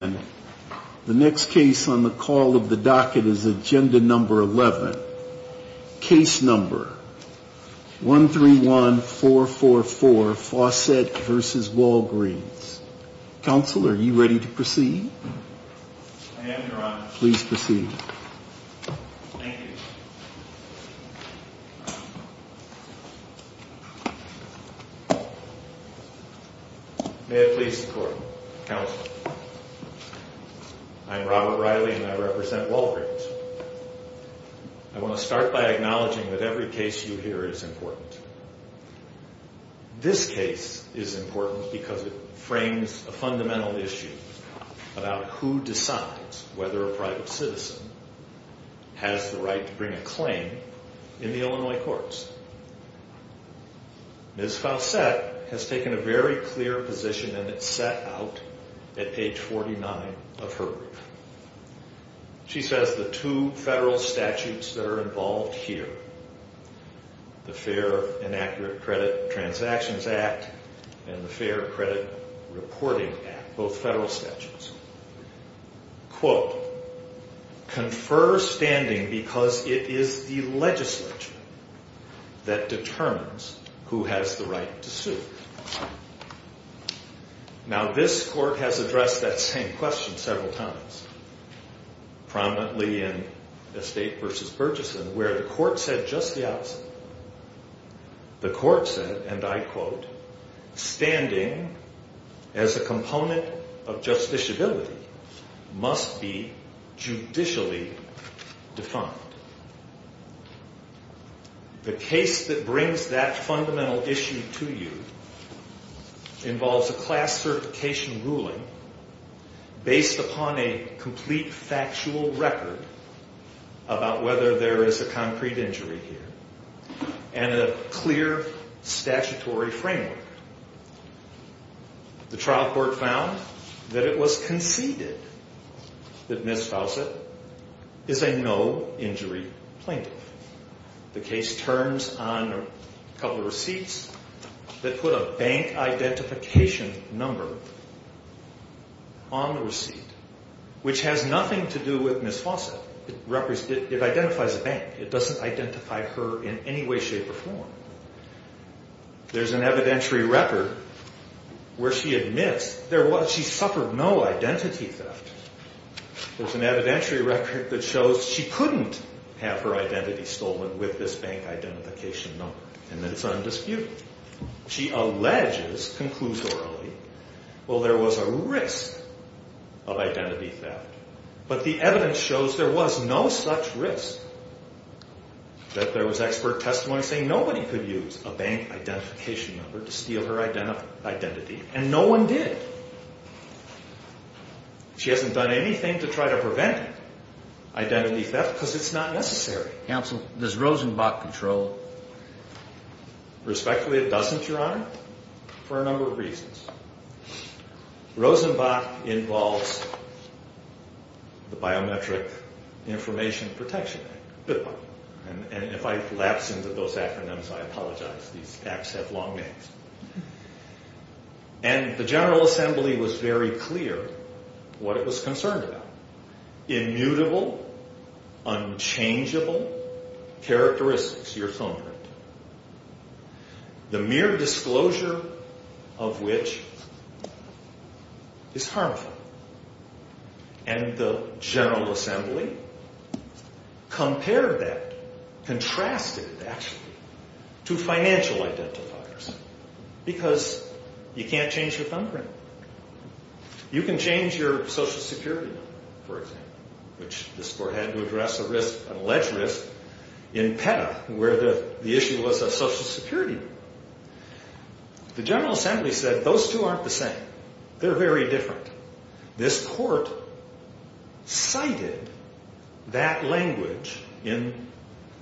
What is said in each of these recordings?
The next case on the call of the docket is agenda number 11. Case number 131444, Fausett v. Walgreens. Counsel, are you ready to proceed? I am, Your Honor. Please proceed. Thank you. May it please the Court. Counsel, I am Robert Riley and I represent Walgreens. I want to start by acknowledging that every case you hear is important. This case is important because it frames a fundamental issue about who decides whether a private citizen has the right to bring a claim in the Illinois courts. Ms. Fausett has taken a very clear position and it's set out at page 49 of her brief. She says the two federal statutes that are involved here, the Fair and Accurate Credit Transactions Act and the Fair Credit Reporting Act, both federal statutes, quote, confer standing because it is the legislature that determines who has the right to sue. Now, this Court has addressed that same question several times, prominently in Estate v. Burgesson, where the Court said just the opposite. The Court said, and I quote, standing as a component of justiciability must be judicially defined. The case that brings that fundamental issue to you involves a class certification ruling based upon a complete factual record about whether there is a concrete injury here and a clear statutory framework. The trial court found that it was conceded that Ms. Fausett is a no-injury plaintiff. The case turns on a couple of receipts that put a bank identification number on the receipt, which has nothing to do with Ms. Fausett. It identifies a bank. It doesn't identify her in any way, shape, or form. There's an evidentiary record where she admits she suffered no identity theft. There's an evidentiary record that shows she couldn't have her identity stolen with this bank identification number, and that it's undisputed. She alleges conclusorily, well, there was a risk of identity theft, but the evidence shows there was no such risk, that there was expert testimony saying nobody could use a bank identification number to steal her identity, and no one did. She hasn't done anything to try to prevent identity theft because it's not necessary. Counsel, does Rosenbach control? Respectfully, it doesn't, Your Honor, for a number of reasons. Rosenbach involves the Biometric Information Protection Act, BIPOC. And if I lapse into those acronyms, I apologize. These acts have long names. And the General Assembly was very clear what it was concerned about, immutable, unchangeable characteristics, your thumbprint, the mere disclosure of which is harmful. And the General Assembly compared that, contrasted it, actually, to financial identifiers because you can't change your thumbprint. You can change your Social Security number, for example, which this Court had to address a risk, an alleged risk, in PETA, where the issue was a Social Security number. The General Assembly said those two aren't the same. They're very different. This Court cited that language in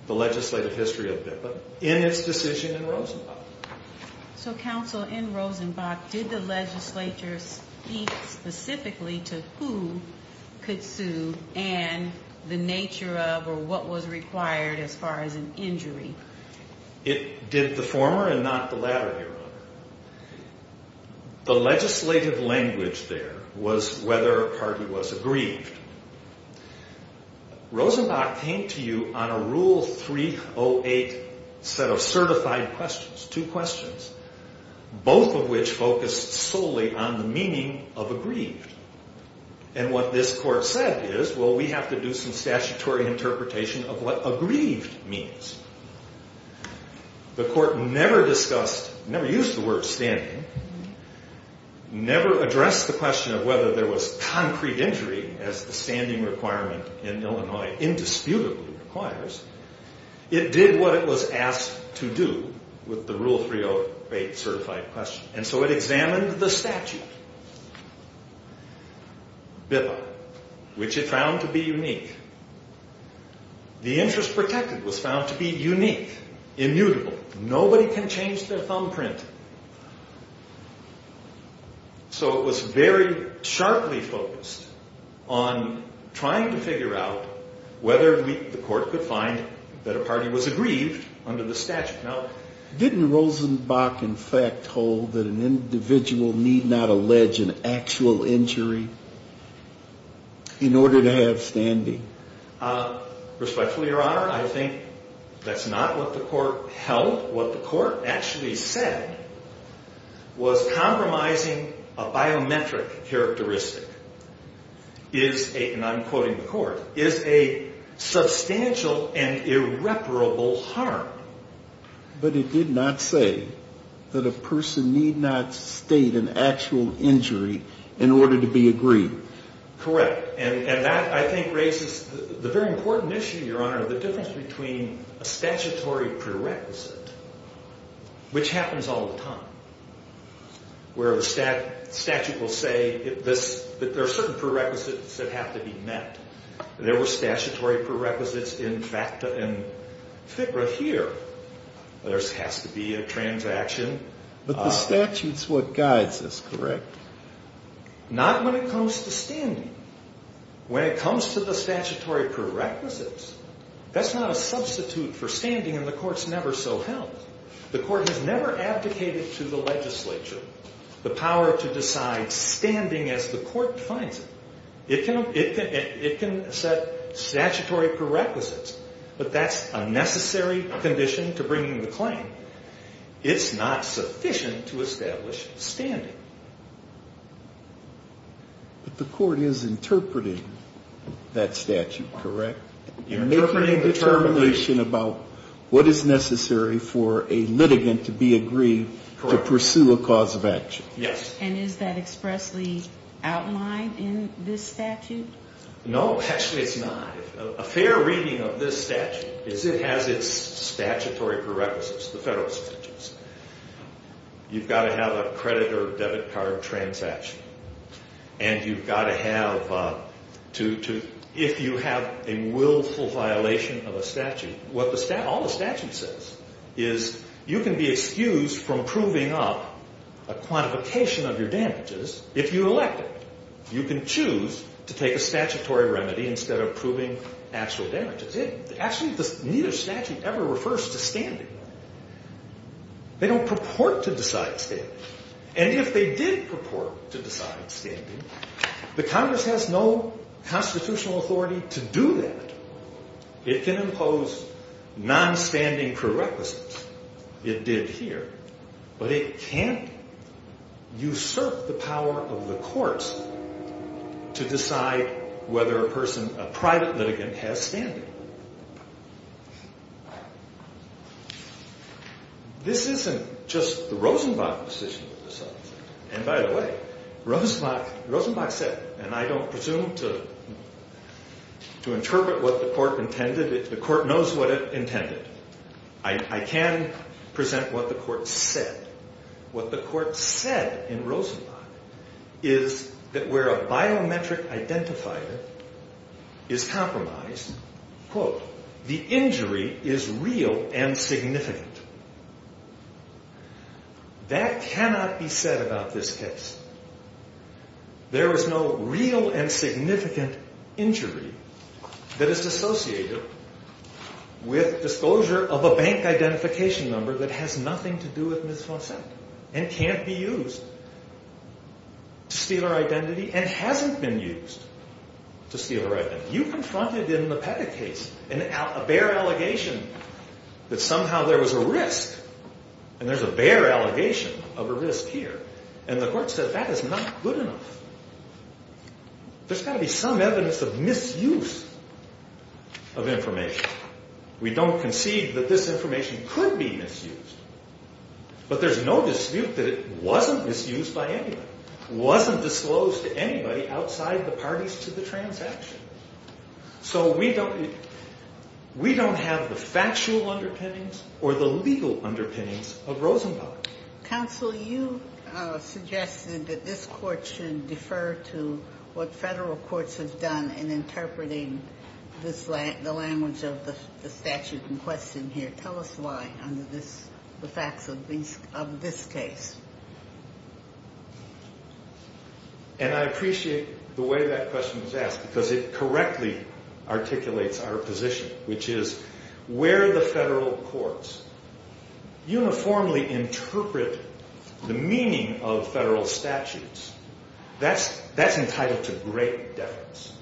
the legislative history of BIPOC in its decision in Rosenbach. So, Counsel, in Rosenbach, did the legislature speak specifically to who could sue and the nature of or what was required as far as an injury? It did the former and not the latter, Your Honor. The legislative language there was whether a party was aggrieved. Rosenbach came to you on a Rule 308 set of certified questions, two questions, both of which focused solely on the meaning of aggrieved. And what this Court said is, well, we have to do some statutory interpretation of what aggrieved means. The Court never discussed, never used the word standing, never addressed the question of whether there was concrete injury as the standing requirement in Illinois indisputably requires. It did what it was asked to do with the Rule 308 certified question. And so it examined the statute, BIPOC, which it found to be unique. The interest protected was found to be unique, immutable. Nobody can change their thumbprint. So it was very sharply focused on trying to figure out whether the Court could find that a party was aggrieved under the statute. Now, didn't Rosenbach, in fact, hold that an individual need not allege an actual injury in order to have standing? Respectfully, Your Honor, I think that's not what the Court held. What the Court actually said was compromising a biometric characteristic is a, and I'm quoting the Court, is a substantial and irreparable harm. But it did not say that a person need not state an actual injury in order to be aggrieved. Correct. And that, I think, raises the very important issue, Your Honor, the difference between a statutory prerequisite, which happens all the time, where the statute will say that there are certain prerequisites that have to be met. There were statutory prerequisites in FACTA and FCRA here. There has to be a transaction. But the statute's what guides this, correct? Not when it comes to standing. When it comes to the statutory prerequisites, that's not a substitute for standing, and the Court's never so held. The Court has never abdicated to the legislature the power to decide standing as the Court finds it. It can set statutory prerequisites, but that's a necessary condition to bringing the claim. It's not sufficient to establish standing. But the Court is interpreting that statute, correct? Interpreting determination about what is necessary for a litigant to be aggrieved to pursue a cause of action. Yes. And is that expressly outlined in this statute? No, actually it's not. A fair reading of this statute is it has its statutory prerequisites, the federal statutes. You've got to have a credit or debit card transaction, and you've got to have to, if you have a willful violation of a statute, all the statute says is you can be excused from proving up a quantification of your damages if you elect it. You can choose to take a statutory remedy instead of proving actual damages. Actually, neither statute ever refers to standing. They don't purport to decide standing. And if they did purport to decide standing, the Congress has no constitutional authority to do that. It can impose non-standing prerequisites. It did here. But it can't usurp the power of the courts to decide whether a person, a private litigant, has standing. This isn't just the Rosenbach decision. And by the way, Rosenbach said, and I don't presume to interpret what the court intended. The court knows what it intended. I can present what the court said. What the court said in Rosenbach is that where a biometric identifier is compromised, quote, the injury is real and significant. That cannot be said about this case. There is no real and significant injury that is associated with disclosure of a bank identification number that has nothing to do with Ms. Fonsette and can't be used to steal her identity and hasn't been used to steal her identity. But you confronted in the Pettit case a bare allegation that somehow there was a risk. And there's a bare allegation of a risk here. And the court said that is not good enough. There's got to be some evidence of misuse of information. We don't concede that this information could be misused. But there's no dispute that it wasn't misused by anybody. It wasn't disclosed to anybody outside the parties to the transaction. So we don't have the factual underpinnings or the legal underpinnings of Rosenbach. Counsel, you suggested that this court should defer to what federal courts have done in interpreting the language of the statute in question here. Tell us why under the facts of this case. And I appreciate the way that question was asked because it correctly articulates our position, which is where the federal courts uniformly interpret the meaning of federal statutes, that's entitled to great deference.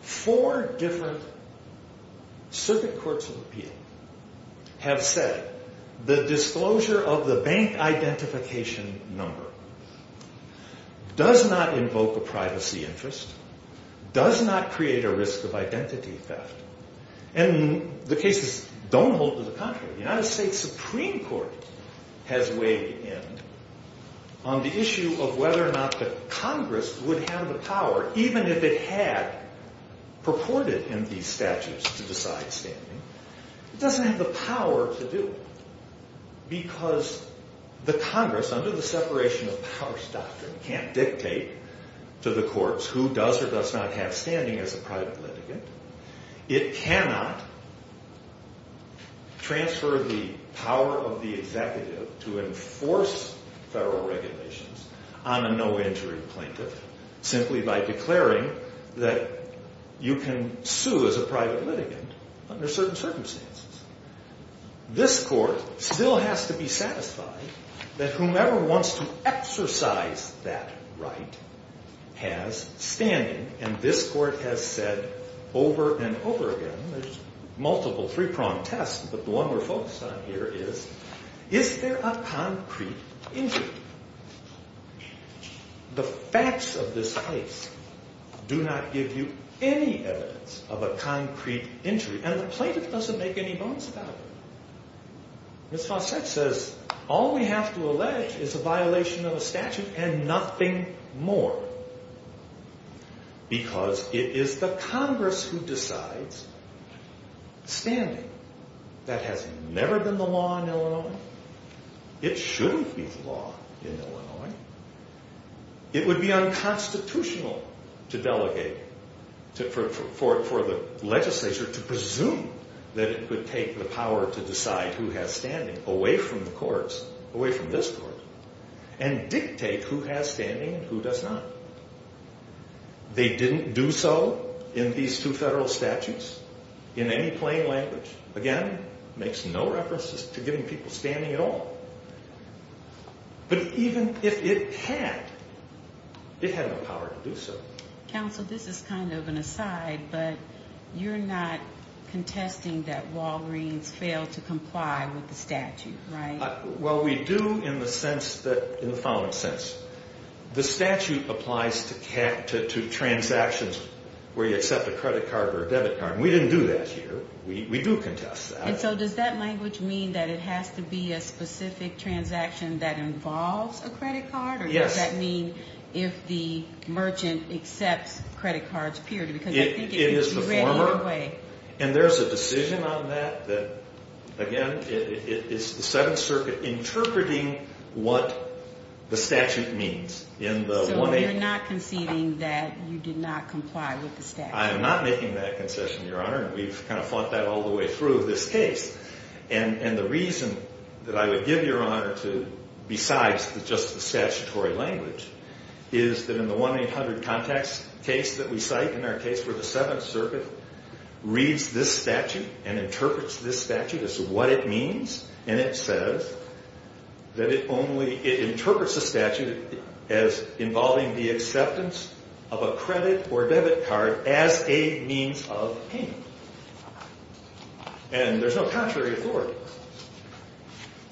Four different circuit courts of appeal have said the disclosure of the bank identification number does not invoke a privacy interest, does not create a risk of identity theft. And the cases don't hold to the contrary. The United States Supreme Court has weighed in on the issue of whether or not the Congress would have the power, even if it had purported in these statutes to decide standing. It doesn't have the power to do it because the Congress, under the separation of powers doctrine, can't dictate to the courts who does or does not have standing as a private litigant. It cannot transfer the power of the executive to enforce federal regulations on a no entry plaintiff simply by declaring that you can sue as a private litigant under certain circumstances. This court still has to be satisfied that whomever wants to exercise that right has standing. And this court has said over and over again, there's multiple three-pronged tests, but the one we're focused on here is, is there a concrete injury? The facts of this case do not give you any evidence of a concrete injury. And the plaintiff doesn't make any bones about it. Ms. Fawcett says all we have to allege is a violation of a statute and nothing more because it is the Congress who decides standing. That has never been the law in Illinois. It shouldn't be the law in Illinois. It would be unconstitutional to delegate, for the legislature to presume that it would take the power to decide who has standing away from the courts, away from this court, and dictate who has standing and who does not. They didn't do so in these two federal statutes in any plain language. Again, makes no references to giving people standing at all. But even if it had, it had no power to do so. Counsel, this is kind of an aside, but you're not contesting that Walgreens failed to comply with the statute, right? Well, we do in the sense that, in the following sense. The statute applies to transactions where you accept a credit card or a debit card. We didn't do that here. We do contest that. And so does that language mean that it has to be a specific transaction that involves a credit card? Yes. Or does that mean if the merchant accepts credit cards, period? It is the former. And there's a decision on that that, again, it's the Seventh Circuit interpreting what the statute means. So you're not conceding that you did not comply with the statute? I am not making that concession, Your Honor. We've kind of fought that all the way through this case. And the reason that I would give Your Honor to, besides just the statutory language, is that in the 1-800-CONTACTS case that we cite, in our case where the Seventh Circuit reads this statute and interprets this statute as to what it means, and it says that it only, it interprets the statute as involving the acceptance of a credit or debit card as a means of payment. And there's no contrary authority.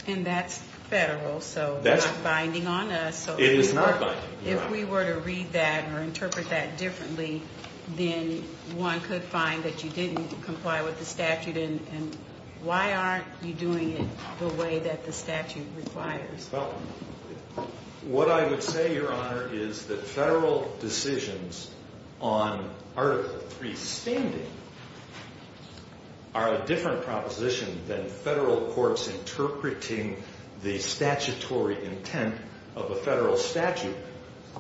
And that's federal, so it's not binding on us. It is not binding. If we were to read that or interpret that differently, then one could find that you didn't comply with the statute. And why aren't you doing it the way that the statute requires? Well, what I would say, Your Honor, is that federal decisions on Article III standing are a different proposition than federal courts interpreting the statutory intent of a federal statute,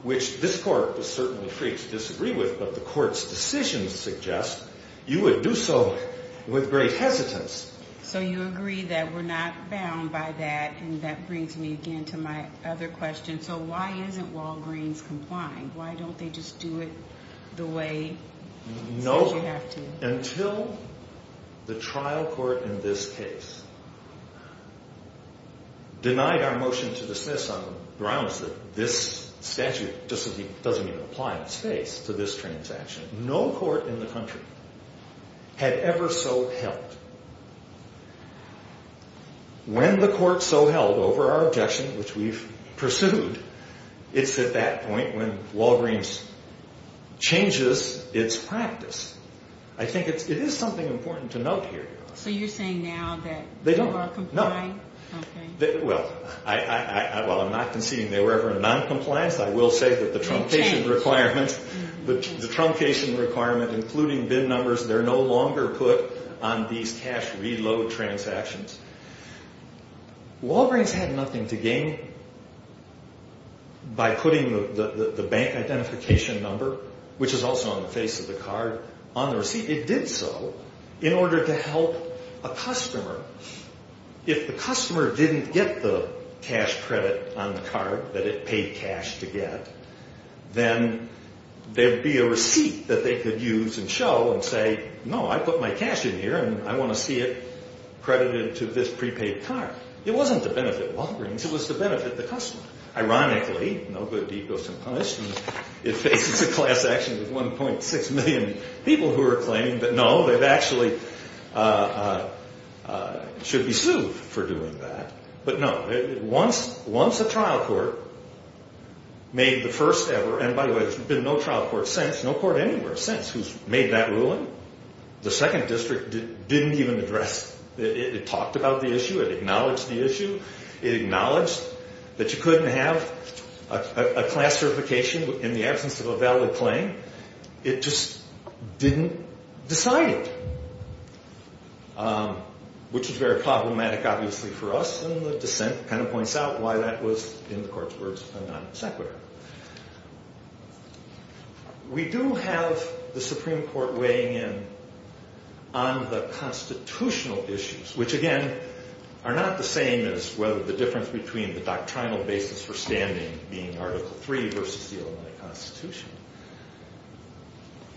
which this court is certainly free to disagree with, but the court's decisions suggest you would do so with great hesitance. So you agree that we're not bound by that, and that brings me again to my other question. So why isn't Walgreens complying? Why don't they just do it the way they say you have to? Until the trial court in this case denied our motion to dismiss on grounds that this statute doesn't even apply in its face to this transaction, no court in the country had ever so held. When the court so held over our objection, which we've pursued, it's at that point when Walgreens changes its practice. I think it is something important to note here. So you're saying now that they are not complying? Okay. Well, while I'm not conceding they were ever noncompliant, I will say that the truncation requirement, including BIN numbers, they're no longer put on these cash reload transactions. Walgreens had nothing to gain by putting the bank identification number, which is also on the face of the card, on the receipt. It did so in order to help a customer. If the customer didn't get the cash credit on the card that it paid cash to get, then there would be a receipt that they could use and show and say, no, I put my cash in here and I want to see it credited to this prepaid card. It wasn't to benefit Walgreens. It was to benefit the customer. Ironically, no good deed goes unpunished, and it faces a class action of 1.6 million people who are claiming, but no, they've actually should be sued for doing that. But no, once a trial court made the first ever, and by the way, there's been no trial court since, no court anywhere since, who's made that ruling. The second district didn't even address it. It talked about the issue. It acknowledged the issue. It acknowledged that you couldn't have a class certification in the absence of a valid claim. It just didn't decide it, which is very problematic, obviously, for us, and the dissent kind of points out why that was, in the court's words, a non sequitur. We do have the Supreme Court weighing in on the constitutional issues, which, again, are not the same as whether the difference between the doctrinal basis for standing, being Article III versus the Illinois Constitution.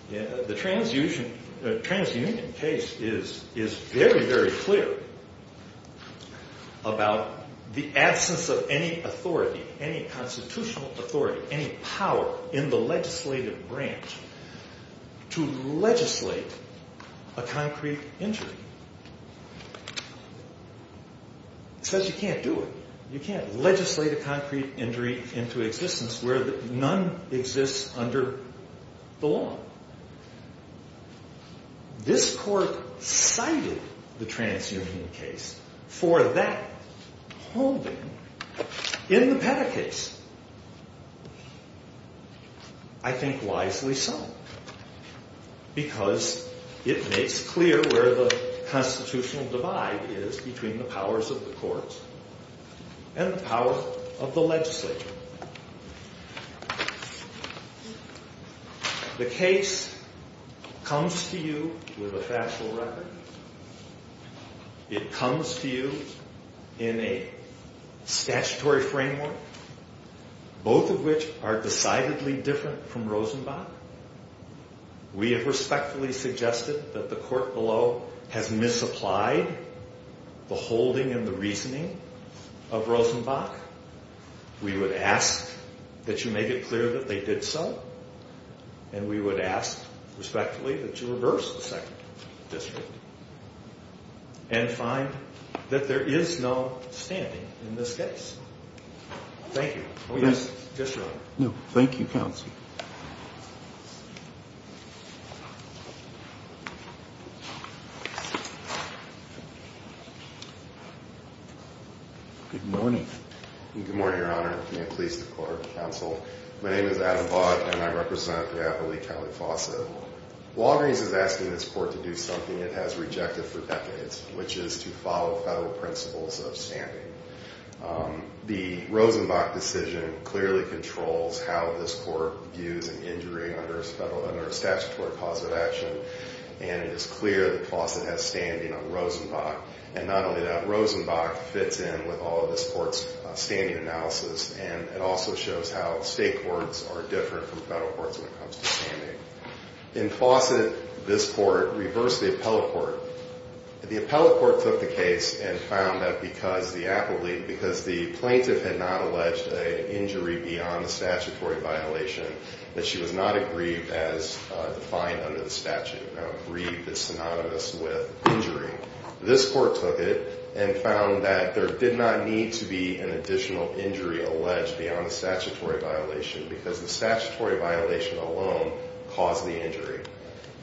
The transunion case is very, very clear about the absence of any authority, any constitutional authority, any power in the legislative branch to legislate a concrete injury. It says you can't do it. You can't legislate a concrete injury into existence where none exists under the law. This court cited the transunion case for that holding in the Petta case. I think wisely so, because it makes clear where the constitutional divide is between the powers of the courts and the powers of the legislature. The case comes to you with a factual record. It comes to you in a statutory framework. Both of which are decidedly different from Rosenbach. We have respectfully suggested that the court below has misapplied the holding and the reasoning of Rosenbach. We would ask that you make it clear that they did so, and we would ask respectfully that you reverse the second district and find that there is no standing in this case. Thank you. Yes, Your Honor. No, thank you, Counsel. Good morning. Good morning, Your Honor. May it please the Court of Counsel. My name is Adam Vaught, and I represent the Appalachian County Faucet. Walgreens is asking this court to do something it has rejected for decades, which is to follow federal principles of standing. The Rosenbach decision clearly controls how this court views an injury under a statutory cause of action, and it is clear the faucet has standing on Rosenbach. And not only that, Rosenbach fits in with all of this court's standing analysis, and it also shows how state courts are different from federal courts when it comes to standing. In Faucet, this court reversed the appellate court. The appellate court took the case and found that because the plaintiff had not alleged an injury beyond a statutory violation, that she was not aggrieved as defined under the statute, aggrieved is synonymous with injury. This court took it and found that there did not need to be an additional injury alleged beyond a statutory violation because the statutory violation alone caused the injury.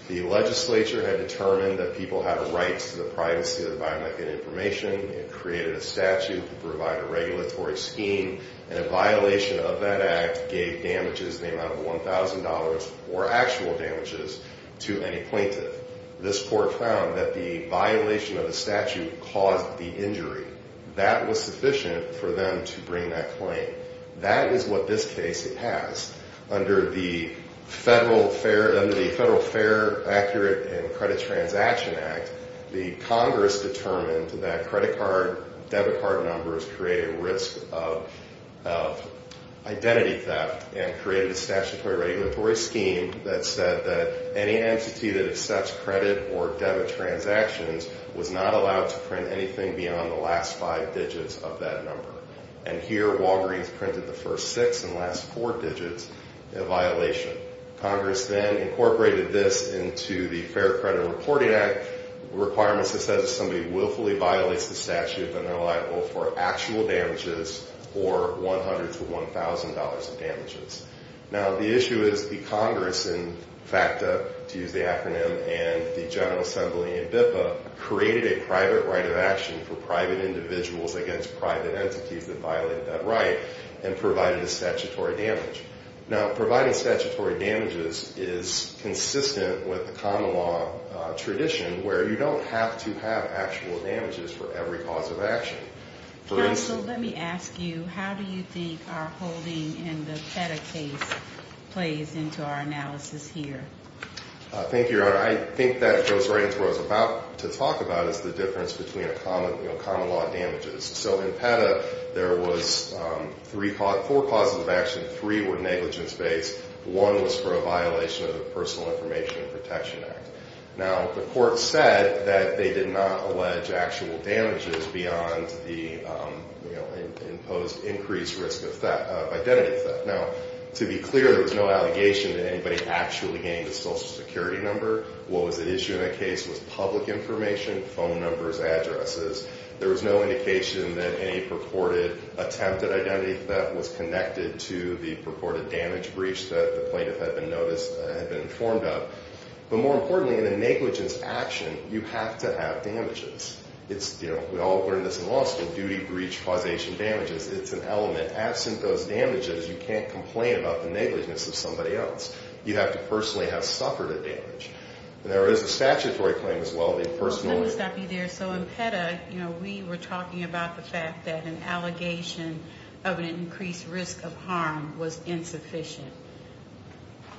The legislature had determined that people have rights to the privacy of the biomechanic information. It created a statute to provide a regulatory scheme, and a violation of that act gave damages in the amount of $1,000 or actual damages to any plaintiff. This court found that the violation of the statute caused the injury. That was sufficient for them to bring that claim. That is what this case has. Under the Federal Fair Accurate and Credit Transaction Act, the Congress determined that credit card debit card numbers create a risk of identity theft and created a statutory regulatory scheme that said that any entity that accepts credit or debit transactions was not allowed to print anything beyond the last five digits of that number. And here, Walgreens printed the first six and last four digits in a violation. Congress then incorporated this into the Fair Credit Reporting Act requirements that says if somebody willfully violates the statute that they're liable for actual damages or $100 to $1,000 in damages. Now, the issue is the Congress in FACTA, to use the acronym, and the General Assembly in BIPA created a private right of action for private individuals against private entities that violated that right and provided a statutory damage. Now, providing statutory damages is consistent with the common law tradition where you don't have to have actual damages for every cause of action. Counsel, let me ask you, how do you think our holding in the PETA case plays into our analysis here? Thank you, Your Honor. I think that goes right into what I was about to talk about is the difference between common law and damages. So in PETA, there was four causes of action. Three were negligence-based. One was for a violation of the Personal Information Protection Act. Now, the court said that they did not allege actual damages beyond the imposed increased risk of identity theft. Now, to be clear, there was no allegation that anybody actually gained a Social Security number. What was at issue in that case was public information, phone numbers, addresses. There was no indication that any purported attempt at identity theft was connected to the purported damage breach that the plaintiff had been informed of. But more importantly, in a negligence action, you have to have damages. It's, you know, we all learned this in law school, duty, breach, causation, damages. It's an element. Absent those damages, you can't complain about the negligence of somebody else. You have to personally have suffered a damage. And there is a statutory claim as well. They personally... Let me stop you there. So in PETA, you know, we were talking about the fact that an allegation of an increased risk of harm was insufficient.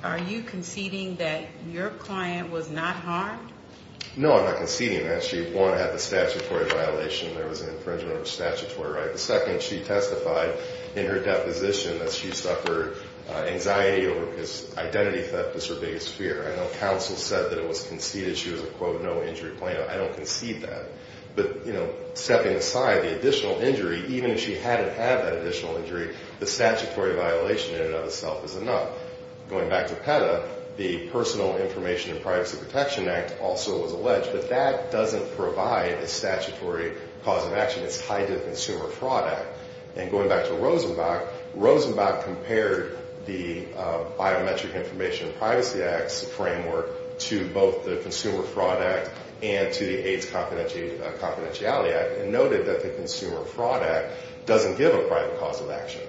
Are you conceding that your client was not harmed? No, I'm not conceding that. She, one, had the statutory violation. There was an infringement of her statutory right. The second, she testified in her deposition that she suffered anxiety over because identity theft was her biggest fear. I know counsel said that it was conceded. She was a, quote, no-injury plaintiff. I don't concede that. But, you know, stepping aside, the additional injury, even if she hadn't had that additional injury, the statutory violation in and of itself is enough. Going back to PETA, the Personal Information and Privacy Protection Act also was alleged. But that doesn't provide a statutory cause of action. It's tied to the Consumer Fraud Act. And going back to Rosenbach, Rosenbach compared the Biometric Information and Privacy Act's framework to both the Consumer Fraud Act and to the AIDS Confidentiality Act and noted that the Consumer Fraud Act doesn't give a private cause of action.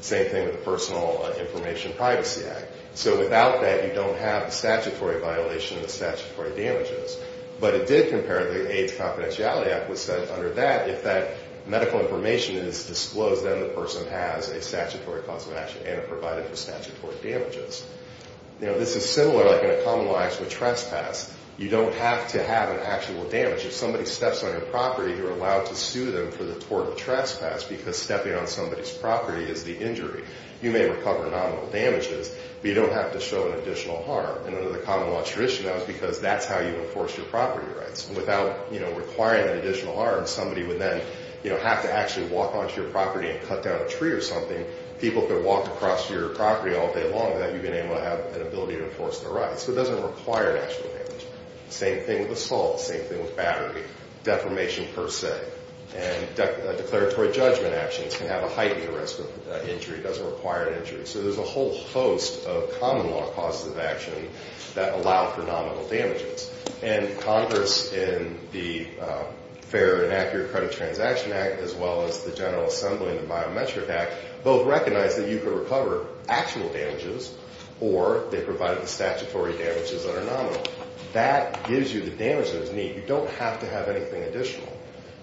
Same thing with the Personal Information and Privacy Act. So without that, you don't have the statutory violation and the statutory damages. But it did compare to the AIDS Confidentiality Act, which said under that, if that medical information is disclosed, then the person has a statutory cause of action and are provided for statutory damages. You know, this is similar, like in a common law, actually a trespass. You don't have to have an actual damage. If somebody steps on your property, you're allowed to sue them for the total trespass because stepping on somebody's property is the injury. You may recover nominal damages, but you don't have to show an additional harm. And under the common law tradition, that was because that's how you enforce your property rights. Without, you know, requiring an additional harm, somebody would then, you know, have to actually walk onto your property and cut down a tree or something. People could walk across your property all day long without you being able to have an ability to enforce their rights. So it doesn't require an actual damage. Same thing with assault, same thing with battery, defamation per se. And declaratory judgment actions can have a heightened risk of injury. It doesn't require an injury. So there's a whole host of common law causes of action that allow for nominal damages. And Congress, in the Fair and Accurate Credit Transaction Act, as well as the General Assembly and the Biometric Act, both recognize that you can recover actual damages or they provide the statutory damages that are nominal. That gives you the damage that is needed. You don't have to have anything additional.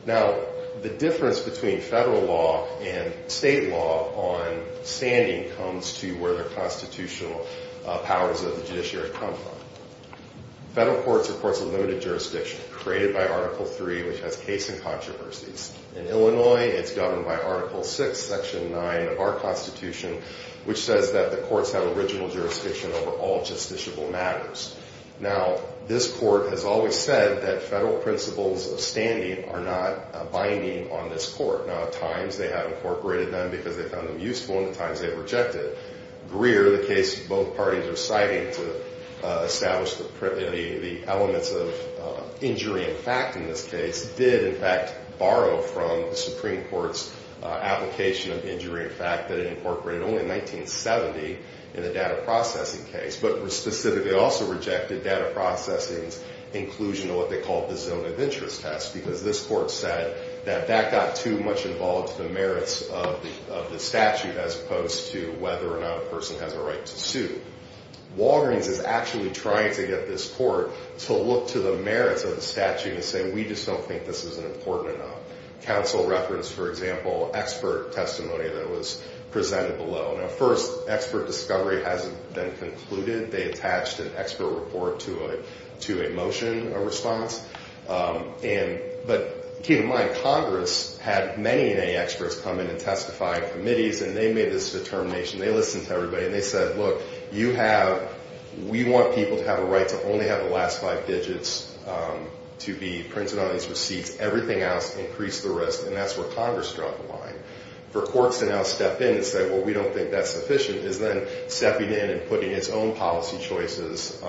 Now, the difference between federal law and state law on standing comes to where the constitutional powers of the judiciary come from. Federal court supports a limited jurisdiction created by Article III, which has case and controversies. In Illinois, it's governed by Article VI, Section 9 of our Constitution, which says that the courts have original jurisdiction over all justiciable matters. Now, this court has always said that federal principles of standing are not binding on this court. Now, at times they have incorporated them because they found them useful, and at times they've rejected. Greer, the case both parties are citing to establish the elements of injury in fact in this case, did in fact borrow from the Supreme Court's application of injury in fact that it incorporated only in 1970 in the data processing case, but specifically also rejected data processing's inclusion of what they called the zone of interest test because this court said that that got too much involved to the merits of the statute as opposed to whether or not a person has a right to sue. Walgreens is actually trying to get this court to look to the merits of the statute and say, we just don't think this is important enough. Counsel referenced, for example, expert testimony that was presented below. Now, first, expert discovery hasn't been concluded. They attached an expert report to a motion, a response. But keep in mind, Congress had many and many experts come in and testify in committees, and they made this determination. They listened to everybody, and they said, look, you have we want people to have a right to only have the last five digits to be printed on these receipts. Everything else, increase the rest, and that's where Congress dropped the line. For courts to now step in and say, well, we don't think that's sufficient, is then stepping in and putting its own policy choices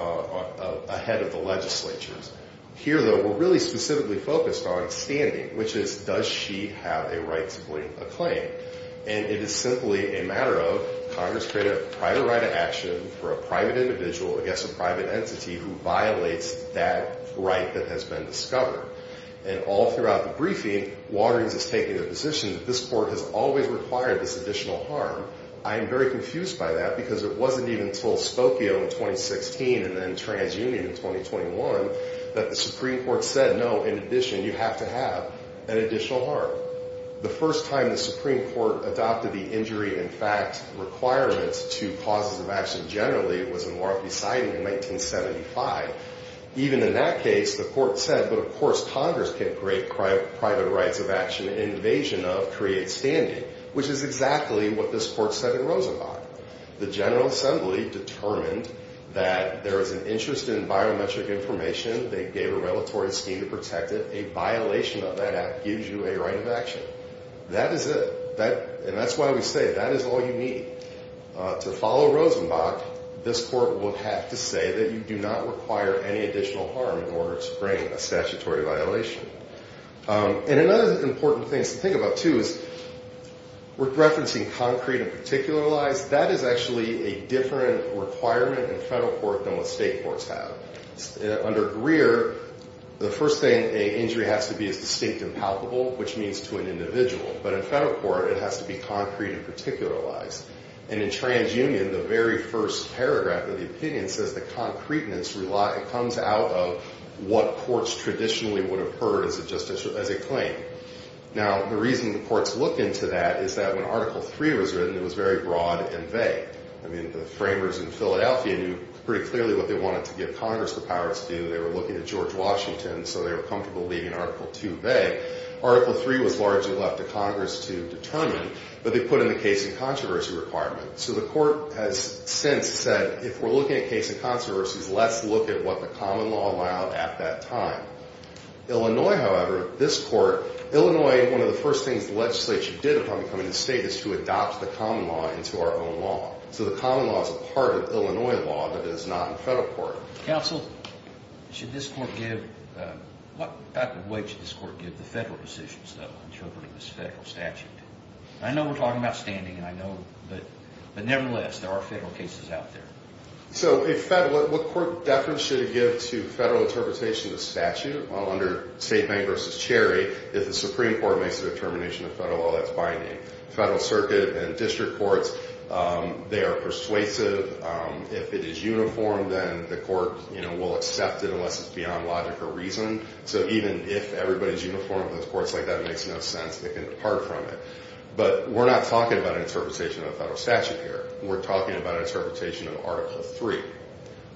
ahead of the legislature's. Here, though, we're really specifically focused on standing, which is does she have a right to claim? And it is simply a matter of Congress created a private right of action for a private individual against a private entity who violates that right that has been discovered. And all throughout the briefing, Waterings is taking the position that this court has always required this additional harm. I am very confused by that because it wasn't even until Spokio in 2016 and then TransUnion in 2021 that the Supreme Court said, no, in addition, you have to have an additional harm. The first time the Supreme Court adopted the injury in fact requirements to causes of action generally was in Warren v. Siding in 1975. Even in that case, the court said, but of course Congress can create private rights of action, invasion of creates standing, which is exactly what this court said in Rosenbach. The General Assembly determined that there is an interest in biometric information. They gave a regulatory scheme to protect it. A violation of that act gives you a right of action. That is it. And that's why we say that is all you need. To follow Rosenbach, this court would have to say that you do not require any additional harm in order to bring a statutory violation. And another important thing to think about, too, is we're referencing concrete and particular lies. That is actually a different requirement in federal court than what state courts have. Under Greer, the first thing an injury has to be is distinct and palpable, which means to an individual. But in federal court, it has to be concrete and particular lies. And in TransUnion, the very first paragraph of the opinion says that concreteness comes out of what courts traditionally would have heard as a claim. Now, the reason courts look into that is that when Article III was written, it was very broad and vague. I mean, the framers in Philadelphia knew pretty clearly what they wanted to give Congress the power to do. They were looking at George Washington, so they were comfortable leaving Article II vague. Article III was largely left to Congress to determine, but they put in the case and controversy requirement. So the court has since said, if we're looking at case and controversies, let's look at what the common law allowed at that time. Illinois, however, this court, Illinois, one of the first things the legislature did upon becoming the state is to adopt the common law into our own law. So the common law is a part of Illinois law, but it is not in federal court. Counsel, should this court give, what way should this court give the federal decisions, though, interpreting this federal statute? I know we're talking about standing, and I know, but nevertheless, there are federal cases out there. So if federal, what court deference should it give to federal interpretation of the statute under State Bank v. Cherry if the Supreme Court makes a determination of federal law that's binding? Federal circuit and district courts, they are persuasive. If it is uniform, then the court will accept it unless it's beyond logic or reason. So even if everybody's uniform with those courts like that, it makes no sense. They can depart from it. But we're not talking about an interpretation of a federal statute here. We're talking about interpretation of Article III.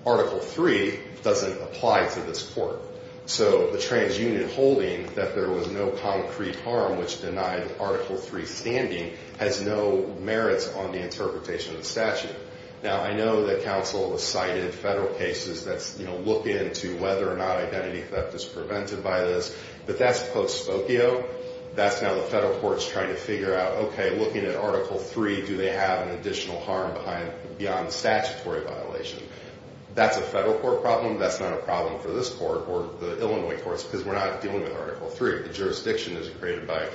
Article III doesn't apply to this court. So the transunion holding that there was no concrete harm which denied Article III standing has no merits on the interpretation of the statute. Now, I know that counsel has cited federal cases that, you know, look into whether or not identity theft is prevented by this, but that's post-spokio. That's now the federal courts trying to figure out, okay, looking at Article III, do they have an additional harm beyond statutory violation? That's a federal court problem. That's not a problem for this court or the Illinois courts because we're not dealing with Article III. The jurisdiction is created by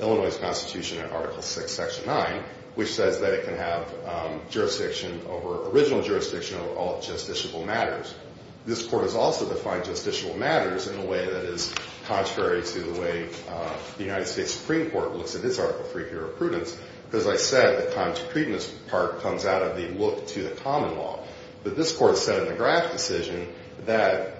Illinois' Constitution in Article VI, Section 9, which says that it can have jurisdiction over original jurisdiction over all justiciable matters. This court has also defined justiciable matters in a way that is contrary to the way the United States Supreme Court looks at this Article III here of prudence. As I said, the contradictiveness part comes out of the look to the common law. But this court said in the Graff decision that,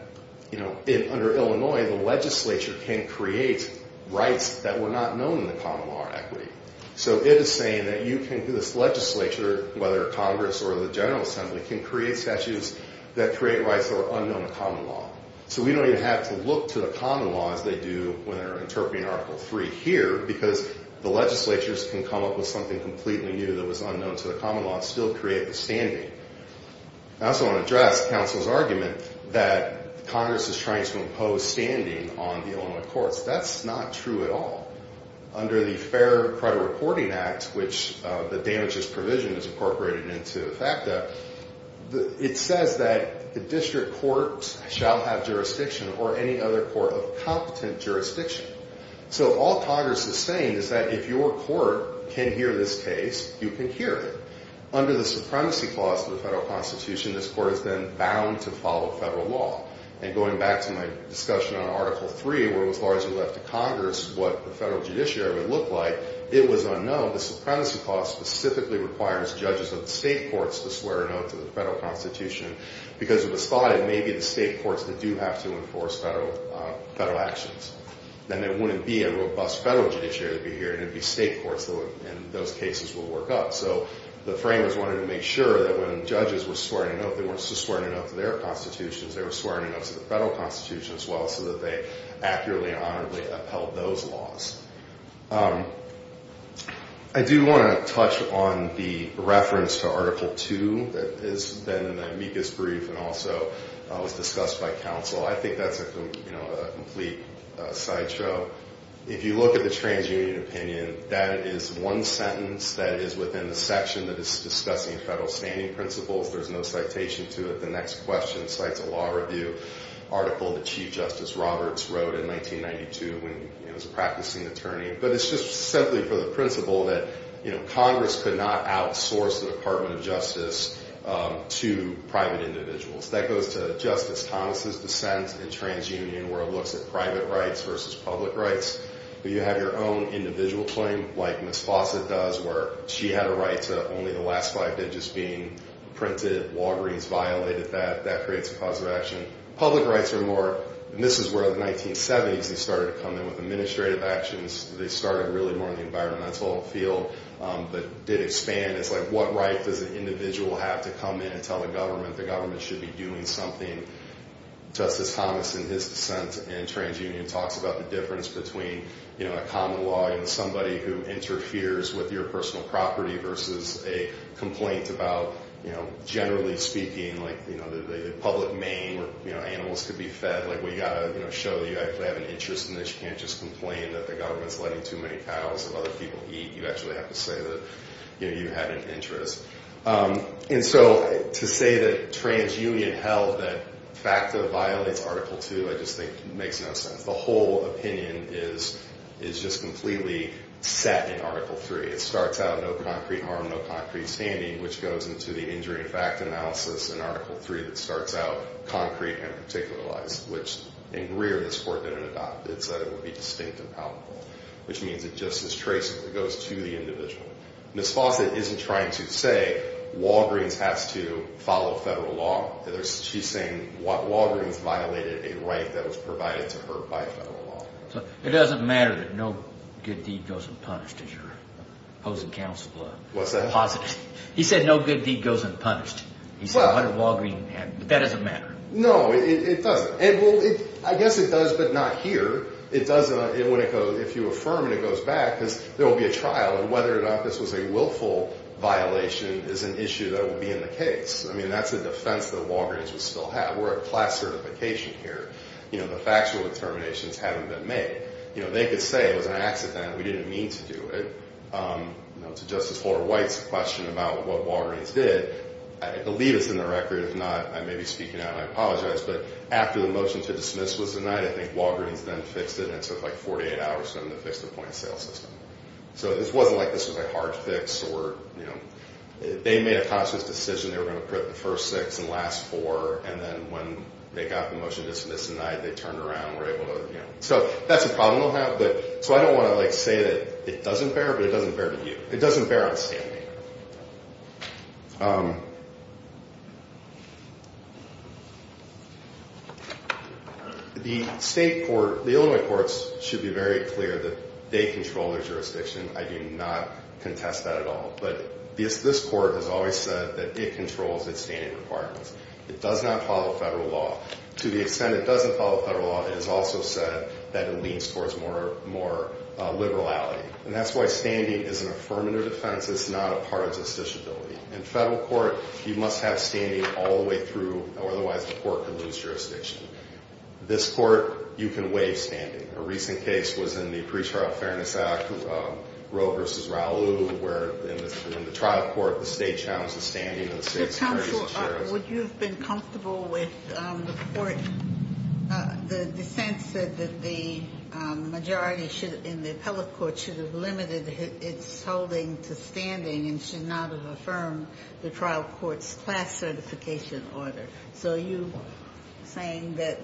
you know, under Illinois, the legislature can create rights that were not known in the common law or equity. So it is saying that you can, this legislature, whether Congress or the General Assembly, can create statutes that create rights that are unknown in common law. So we don't even have to look to the common law as they do when they're interpreting Article III here because the legislatures can come up with something completely new that was unknown to the common law and still create the standing. I also want to address counsel's argument that Congress is trying to impose standing on the Illinois courts. That's not true at all. Under the Fair Credit Reporting Act, which the damages provision is incorporated into the FACTA, it says that the district court shall have jurisdiction or any other court of competent jurisdiction. So all Congress is saying is that if your court can hear this case, you can hear it. Under the supremacy clause of the federal constitution, this court is then bound to follow federal law. And going back to my discussion on Article III, where it was largely left to Congress what the federal judiciary would look like, it was unknown. The supremacy clause specifically requires judges of the state courts to swear an oath to the federal constitution because it was thought it may be the state courts that do have to enforce federal actions. Then it wouldn't be a robust federal judiciary to be hearing. It would be state courts, and those cases will work out. So the framers wanted to make sure that when judges were swearing an oath, they weren't just swearing an oath to their constitutions. They were swearing an oath to the federal constitution as well so that they accurately and honorably upheld those laws. I do want to touch on the reference to Article II that has been in the amicus brief and also was discussed by counsel. I think that's a complete sideshow. If you look at the transunion opinion, that is one sentence that is within the section that is discussing federal standing principles. There's no citation to it. The next question cites a law review article that Chief Justice Roberts wrote in 1992 when he was a practicing attorney. But it's just simply for the principle that Congress could not outsource the Department of Justice to private individuals. That goes to Justice Thomas' dissent in transunion where it looks at private rights versus public rights. You have your own individual claim like Ms. Fawcett does where she had a right to only the last five digits being printed. Walgreens violated that. That creates a cause of action. Public rights are more, and this is where the 1970s, they started to come in with administrative actions. They started really more in the environmental field but did expand. It's like what right does an individual have to come in and tell the government the government should be doing something? Justice Thomas in his dissent in transunion talks about the difference between a common law and somebody who interferes with your personal property versus a complaint about, generally speaking, the public maim where animals could be fed. We've got to show that you actually have an interest in this. You can't just complain that the government is letting too many cows that other people eat. You actually have to say that you have an interest. And so to say that transunion held that FACTA violates Article 2 I just think makes no sense. The whole opinion is just completely set in Article 3. It starts out no concrete harm, no concrete standing, which goes into the injury and FACTA analysis in Article 3 that starts out concrete and particularized, which in Greer this Court didn't adopt. It said it would be distinct and palpable, which means it's just as traceable. It goes to the individual. Ms. Fawcett isn't trying to say Walgreens has to follow federal law. She's saying Walgreens violated a right that was provided to her by federal law. So it doesn't matter that no good deed goes unpunished as you're opposing counsel? What's that? He said no good deed goes unpunished. He said what did Walgreens have? That doesn't matter. No, it doesn't. I guess it does, but not here. If you affirm it, it goes back because there will be a trial, and whether or not this was a willful violation is an issue that will be in the case. I mean that's a defense that Walgreens would still have. We're at class certification here. The factual determinations haven't been made. They could say it was an accident, we didn't mean to do it. To Justice Flora White's question about what Walgreens did, I believe it's in the record. If not, I may be speaking out, and I apologize. But after the motion to dismiss was denied, I think Walgreens then fixed it, and it took like 48 hours for them to fix the point of sale system. So it wasn't like this was a hard fix or, you know, they made a conscious decision they were going to put the first six and last four, and then when they got the motion to dismiss denied, they turned around and were able to, you know. So that's a problem they'll have. So I don't want to say that it doesn't bear, but it doesn't bear to you. It doesn't bear on standing. The state court, the Illinois courts should be very clear that they control their jurisdiction. I do not contest that at all. But this court has always said that it controls its standing requirements. It does not follow federal law. To the extent it doesn't follow federal law, it has also said that it leans towards more liberality. And that's why standing is an affirmative defense. It's not a part of justiciability. In federal court, you must have standing all the way through, or otherwise the court can lose jurisdiction. This court, you can waive standing. A recent case was in the Pre-Trial Fairness Act, Roe v. Raul, where in the trial court, the state challenged the standing of the state securities and shares. Would you have been comfortable with the court, the dissent said that the majority in the appellate court should have limited its holding to standing and should not have affirmed the trial court's class certification order. So are you saying that,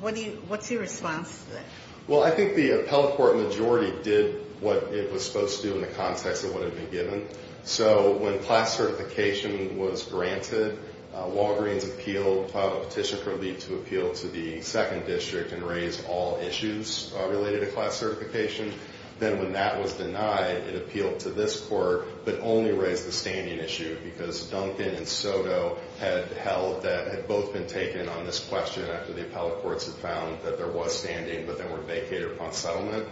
what's your response to that? Well, I think the appellate court majority did what it was supposed to do in the context of what had been given. So when class certification was granted, Walgreens appealed, filed a petition for a leave to appeal to the second district and raise all issues related to class certification. Then when that was denied, it appealed to this court, but only raised the standing issue. Because Duncan and Soto had held that, had both been taken on this question after the appellate courts had found that there was standing, but then were vacated upon settlement.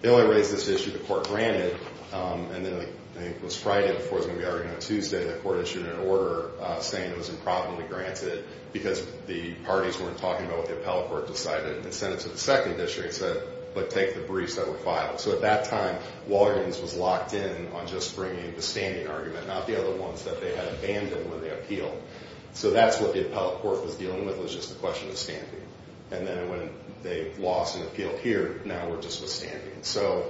They only raised this issue the court granted, and then I think it was Friday before it was going to be argued on Tuesday, the court issued an order saying it was improperly granted because the parties weren't talking about what the appellate court decided and sent it to the second district and said, but take the briefs that were filed. So at that time, Walgreens was locked in on just bringing the standing argument, not the other ones that they had abandoned when they appealed. So that's what the appellate court was dealing with, was just the question of standing. And then when they lost an appeal here, now we're just with standing. So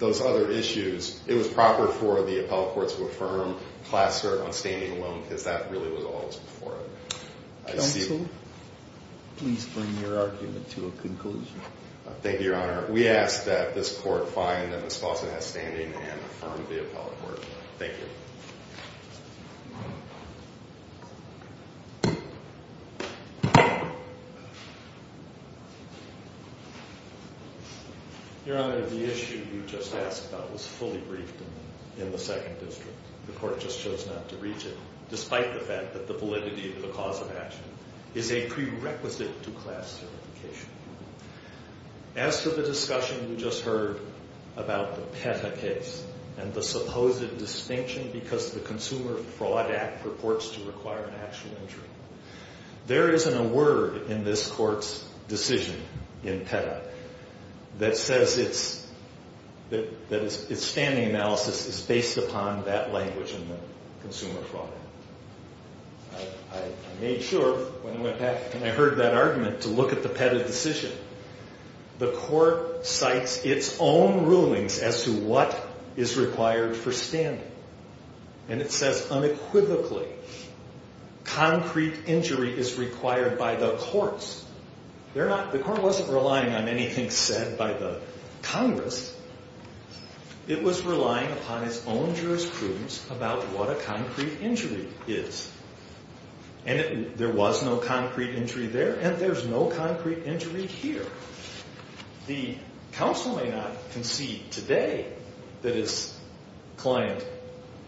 those other issues, it was proper for the appellate court to affirm class cert on standing alone, because that really was all that was before it. Counsel, please bring your argument to a conclusion. Thank you, Your Honor. We ask that this court find that Ms. Fawcett has standing and affirm the appellate court. Thank you. Your Honor, the issue you just asked about was fully briefed in the second district. The court just chose not to reach it, despite the fact that the validity of the cause of action is a prerequisite to class certification. As for the discussion we just heard about the PETA case and the supposed distinction because the Consumer Fraud Act purports to require an actual injury, there isn't a word in this court's decision in PETA that says its standing analysis is based upon that language in the Consumer Fraud Act. I made sure when I went back and I heard that argument to look at the PETA decision. The court cites its own rulings as to what is required for standing. It says unequivocally, concrete injury is required by the courts. The court wasn't relying on anything said by the Congress. It was relying upon its own jurisprudence about what a concrete injury is. There was no concrete injury there and there's no concrete injury here. The counsel may not concede today that his client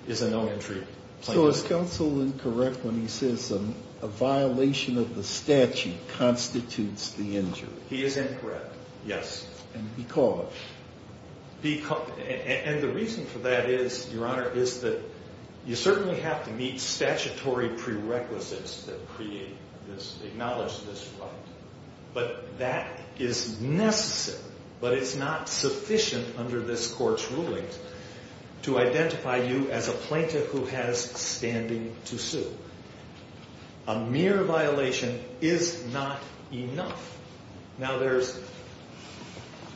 is a no-entry plaintiff. So is counsel incorrect when he says a violation of the statute constitutes the injury? He is incorrect, yes. And because? And the reason for that is, Your Honor, is that you certainly have to meet statutory prerequisites that acknowledge this right. But that is necessary, but it's not sufficient under this court's rulings to identify you as a plaintiff who has standing to sue. A mere violation is not enough. Now there's,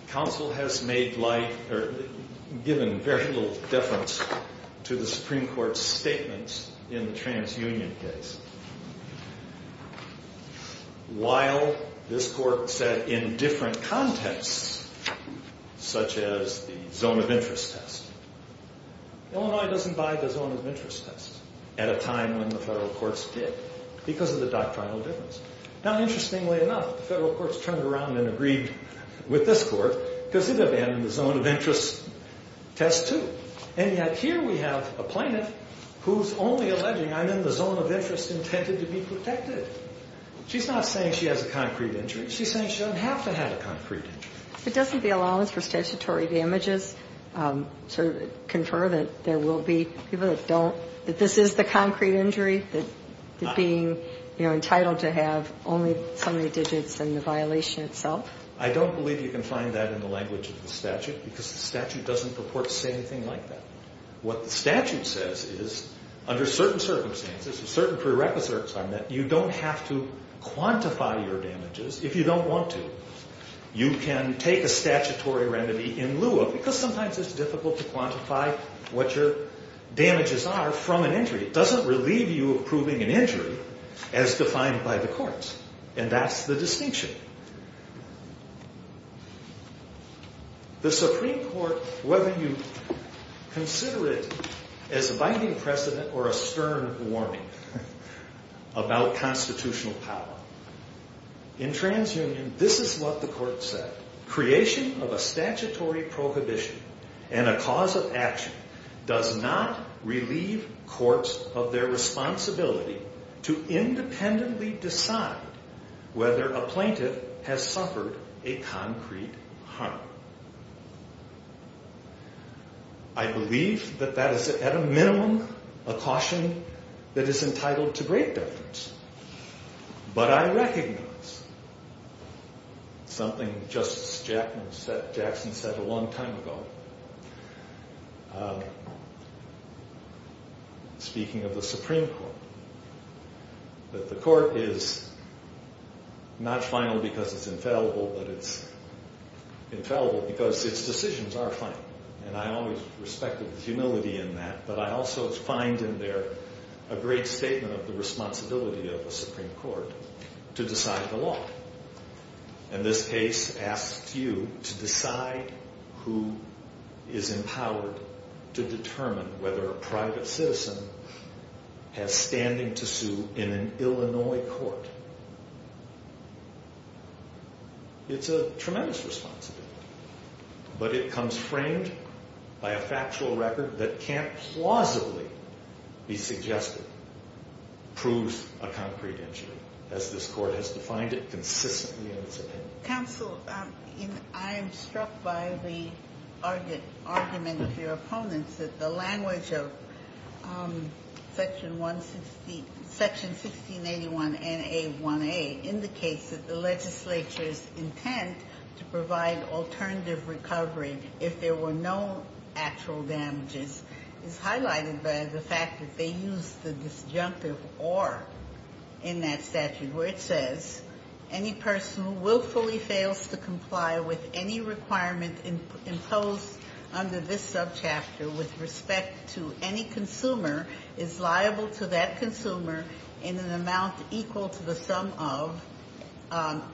counsel has made light, or given very little deference to the Supreme Court's statements in the TransUnion case. While this court said in different contexts, such as the zone of interest test, Illinois doesn't buy the zone of interest test at a time when the federal courts did because of the doctrinal difference. Now interestingly enough, the federal courts turned around and agreed with this court because it abandoned the zone of interest test too. And yet here we have a plaintiff who's only alleging I'm in the zone of interest intended to be protected. She's not saying she has a concrete injury. She's saying she doesn't have to have a concrete injury. But doesn't the allowance for statutory damages sort of confer that there will be people that don't, that this is the concrete injury, that being, you know, entitled to have only so many digits and the violation itself? I don't believe you can find that in the language of the statute because the statute doesn't purport to say anything like that. What the statute says is under certain circumstances, certain prerequisites are met, you don't have to quantify your damages if you don't want to. You can take a statutory remedy in lieu of, because sometimes it's difficult to quantify what your damages are from an injury. It doesn't relieve you of proving an injury as defined by the courts. And that's the distinction. The Supreme Court, whether you consider it as a binding precedent or a stern warning about constitutional power, in TransUnion, this is what the court said. Creation of a statutory prohibition and a cause of action does not relieve courts of their responsibility to independently decide whether a plaintiff has suffered a concrete harm. I believe that that is, at a minimum, a caution that is entitled to great deference. But I recognize something Justice Jackson said a long time ago, speaking of the Supreme Court, that the court is not final because it's infallible, but it's infallible because its decisions are final. And I always respect the humility in that, but I also find in there a great statement of the responsibility of the Supreme Court to decide the law. And this case asks you to decide who is empowered to determine whether a private citizen has standing to sue in an Illinois court. It's a tremendous responsibility, but it comes framed by a factual record that can't plausibly be suggested proves a concrete injury, as this Court has defined it consistently in its opinion. Ginsburg-McGill. Counsel, I'm struck by the argument of your opponents that the language of Section 1681NA1A indicates that the legislature's intent to provide alternative recovery if there were no actual damages is highlighted by the fact that they use the disjunctive or in that statute where it says any person who willfully fails to comply with any requirement imposed under this subchapter with respect to any consumer is liable to that consumer in an amount equal to the sum of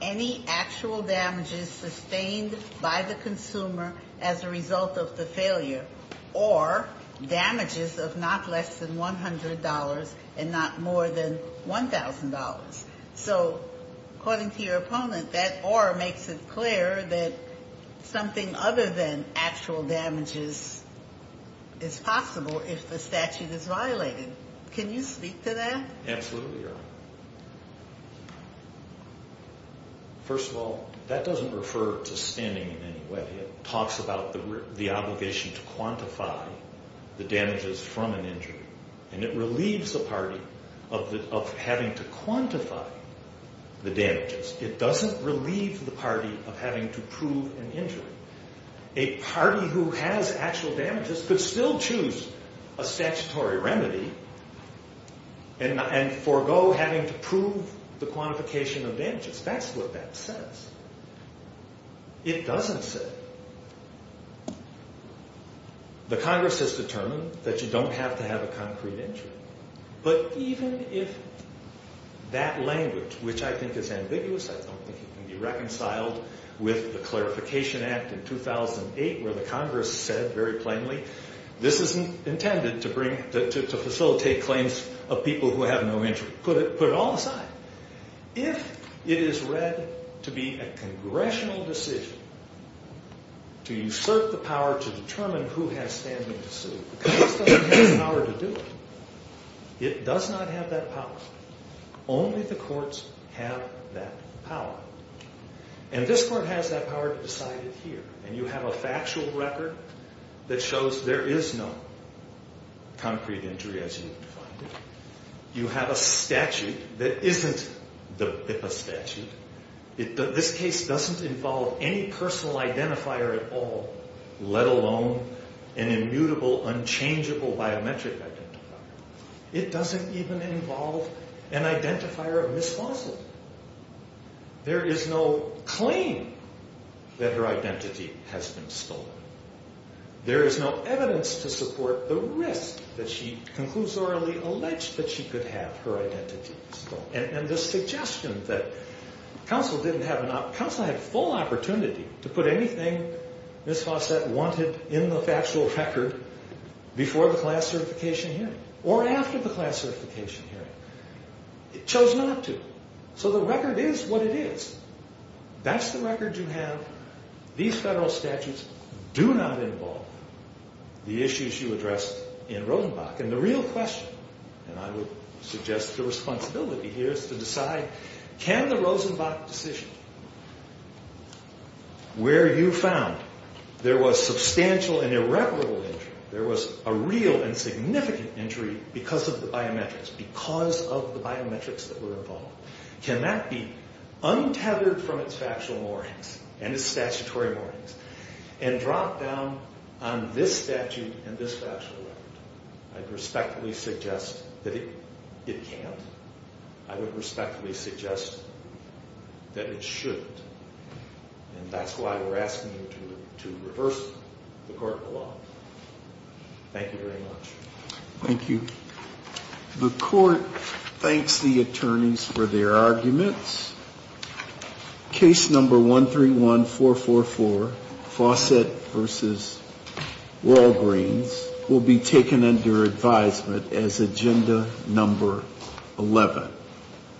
any actual damages sustained by the consumer as a result of the failure or damages of not less than $100 and not more. than $1,000. So according to your opponent, that or makes it clear that something other than actual damages is possible if the statute is violated. Can you speak to that? of having to quantify the damages. It doesn't relieve the party of having to prove an injury. A party who has actual damages could still choose a statutory remedy and forego having to prove the quantification of damages. That's what that says. It doesn't say. The Congress has determined that you don't have to have a concrete injury. But even if that language, which I think is ambiguous, I don't think it can be reconciled with the Clarification Act of 2008 where the Congress said very plainly this isn't intended to facilitate claims of people who have no injury. Put it all aside. If it is read to be a congressional decision to assert the power to determine who has standing to sue, the Congress doesn't have the power to do it. It does not have that power. Only the courts have that power. And this court has that power to decide it here. And you have a factual record that shows there is no concrete injury as you defined it. You have a statute that isn't the BIPA statute. This case doesn't involve any personal identifier at all, let alone an immutable, unchangeable biometric identifier. It doesn't even involve an identifier of Miss Fosley. There is no claim that her identity has been stolen. There is no evidence to support the risk that she conclusorily alleged that she could have her identity stolen. And the suggestion that counsel had full opportunity to put anything Miss Fosley wanted in the factual record before the class certification hearing or after the class certification hearing, it shows not to. So the record is what it is. That's the record you have. These federal statutes do not involve the issues you addressed in Rosenbach. And the real question, and I would suggest the responsibility here is to decide, can the Rosenbach decision where you found there was substantial and irreparable injury, there was a real and significant injury because of the biometrics, because of the biometrics that were involved, can that be untethered from its factual warnings and its statutory warnings and dropped down on this statute and this factual record? I'd respectfully suggest that it can't. I would respectfully suggest that it shouldn't. And that's why we're asking you to reverse the court of law. Thank you very much. Thank you. The court thanks the attorneys for their arguments. Case number 131444, Fawcett v. Walgreens, will be taken under advisement as agenda number 11.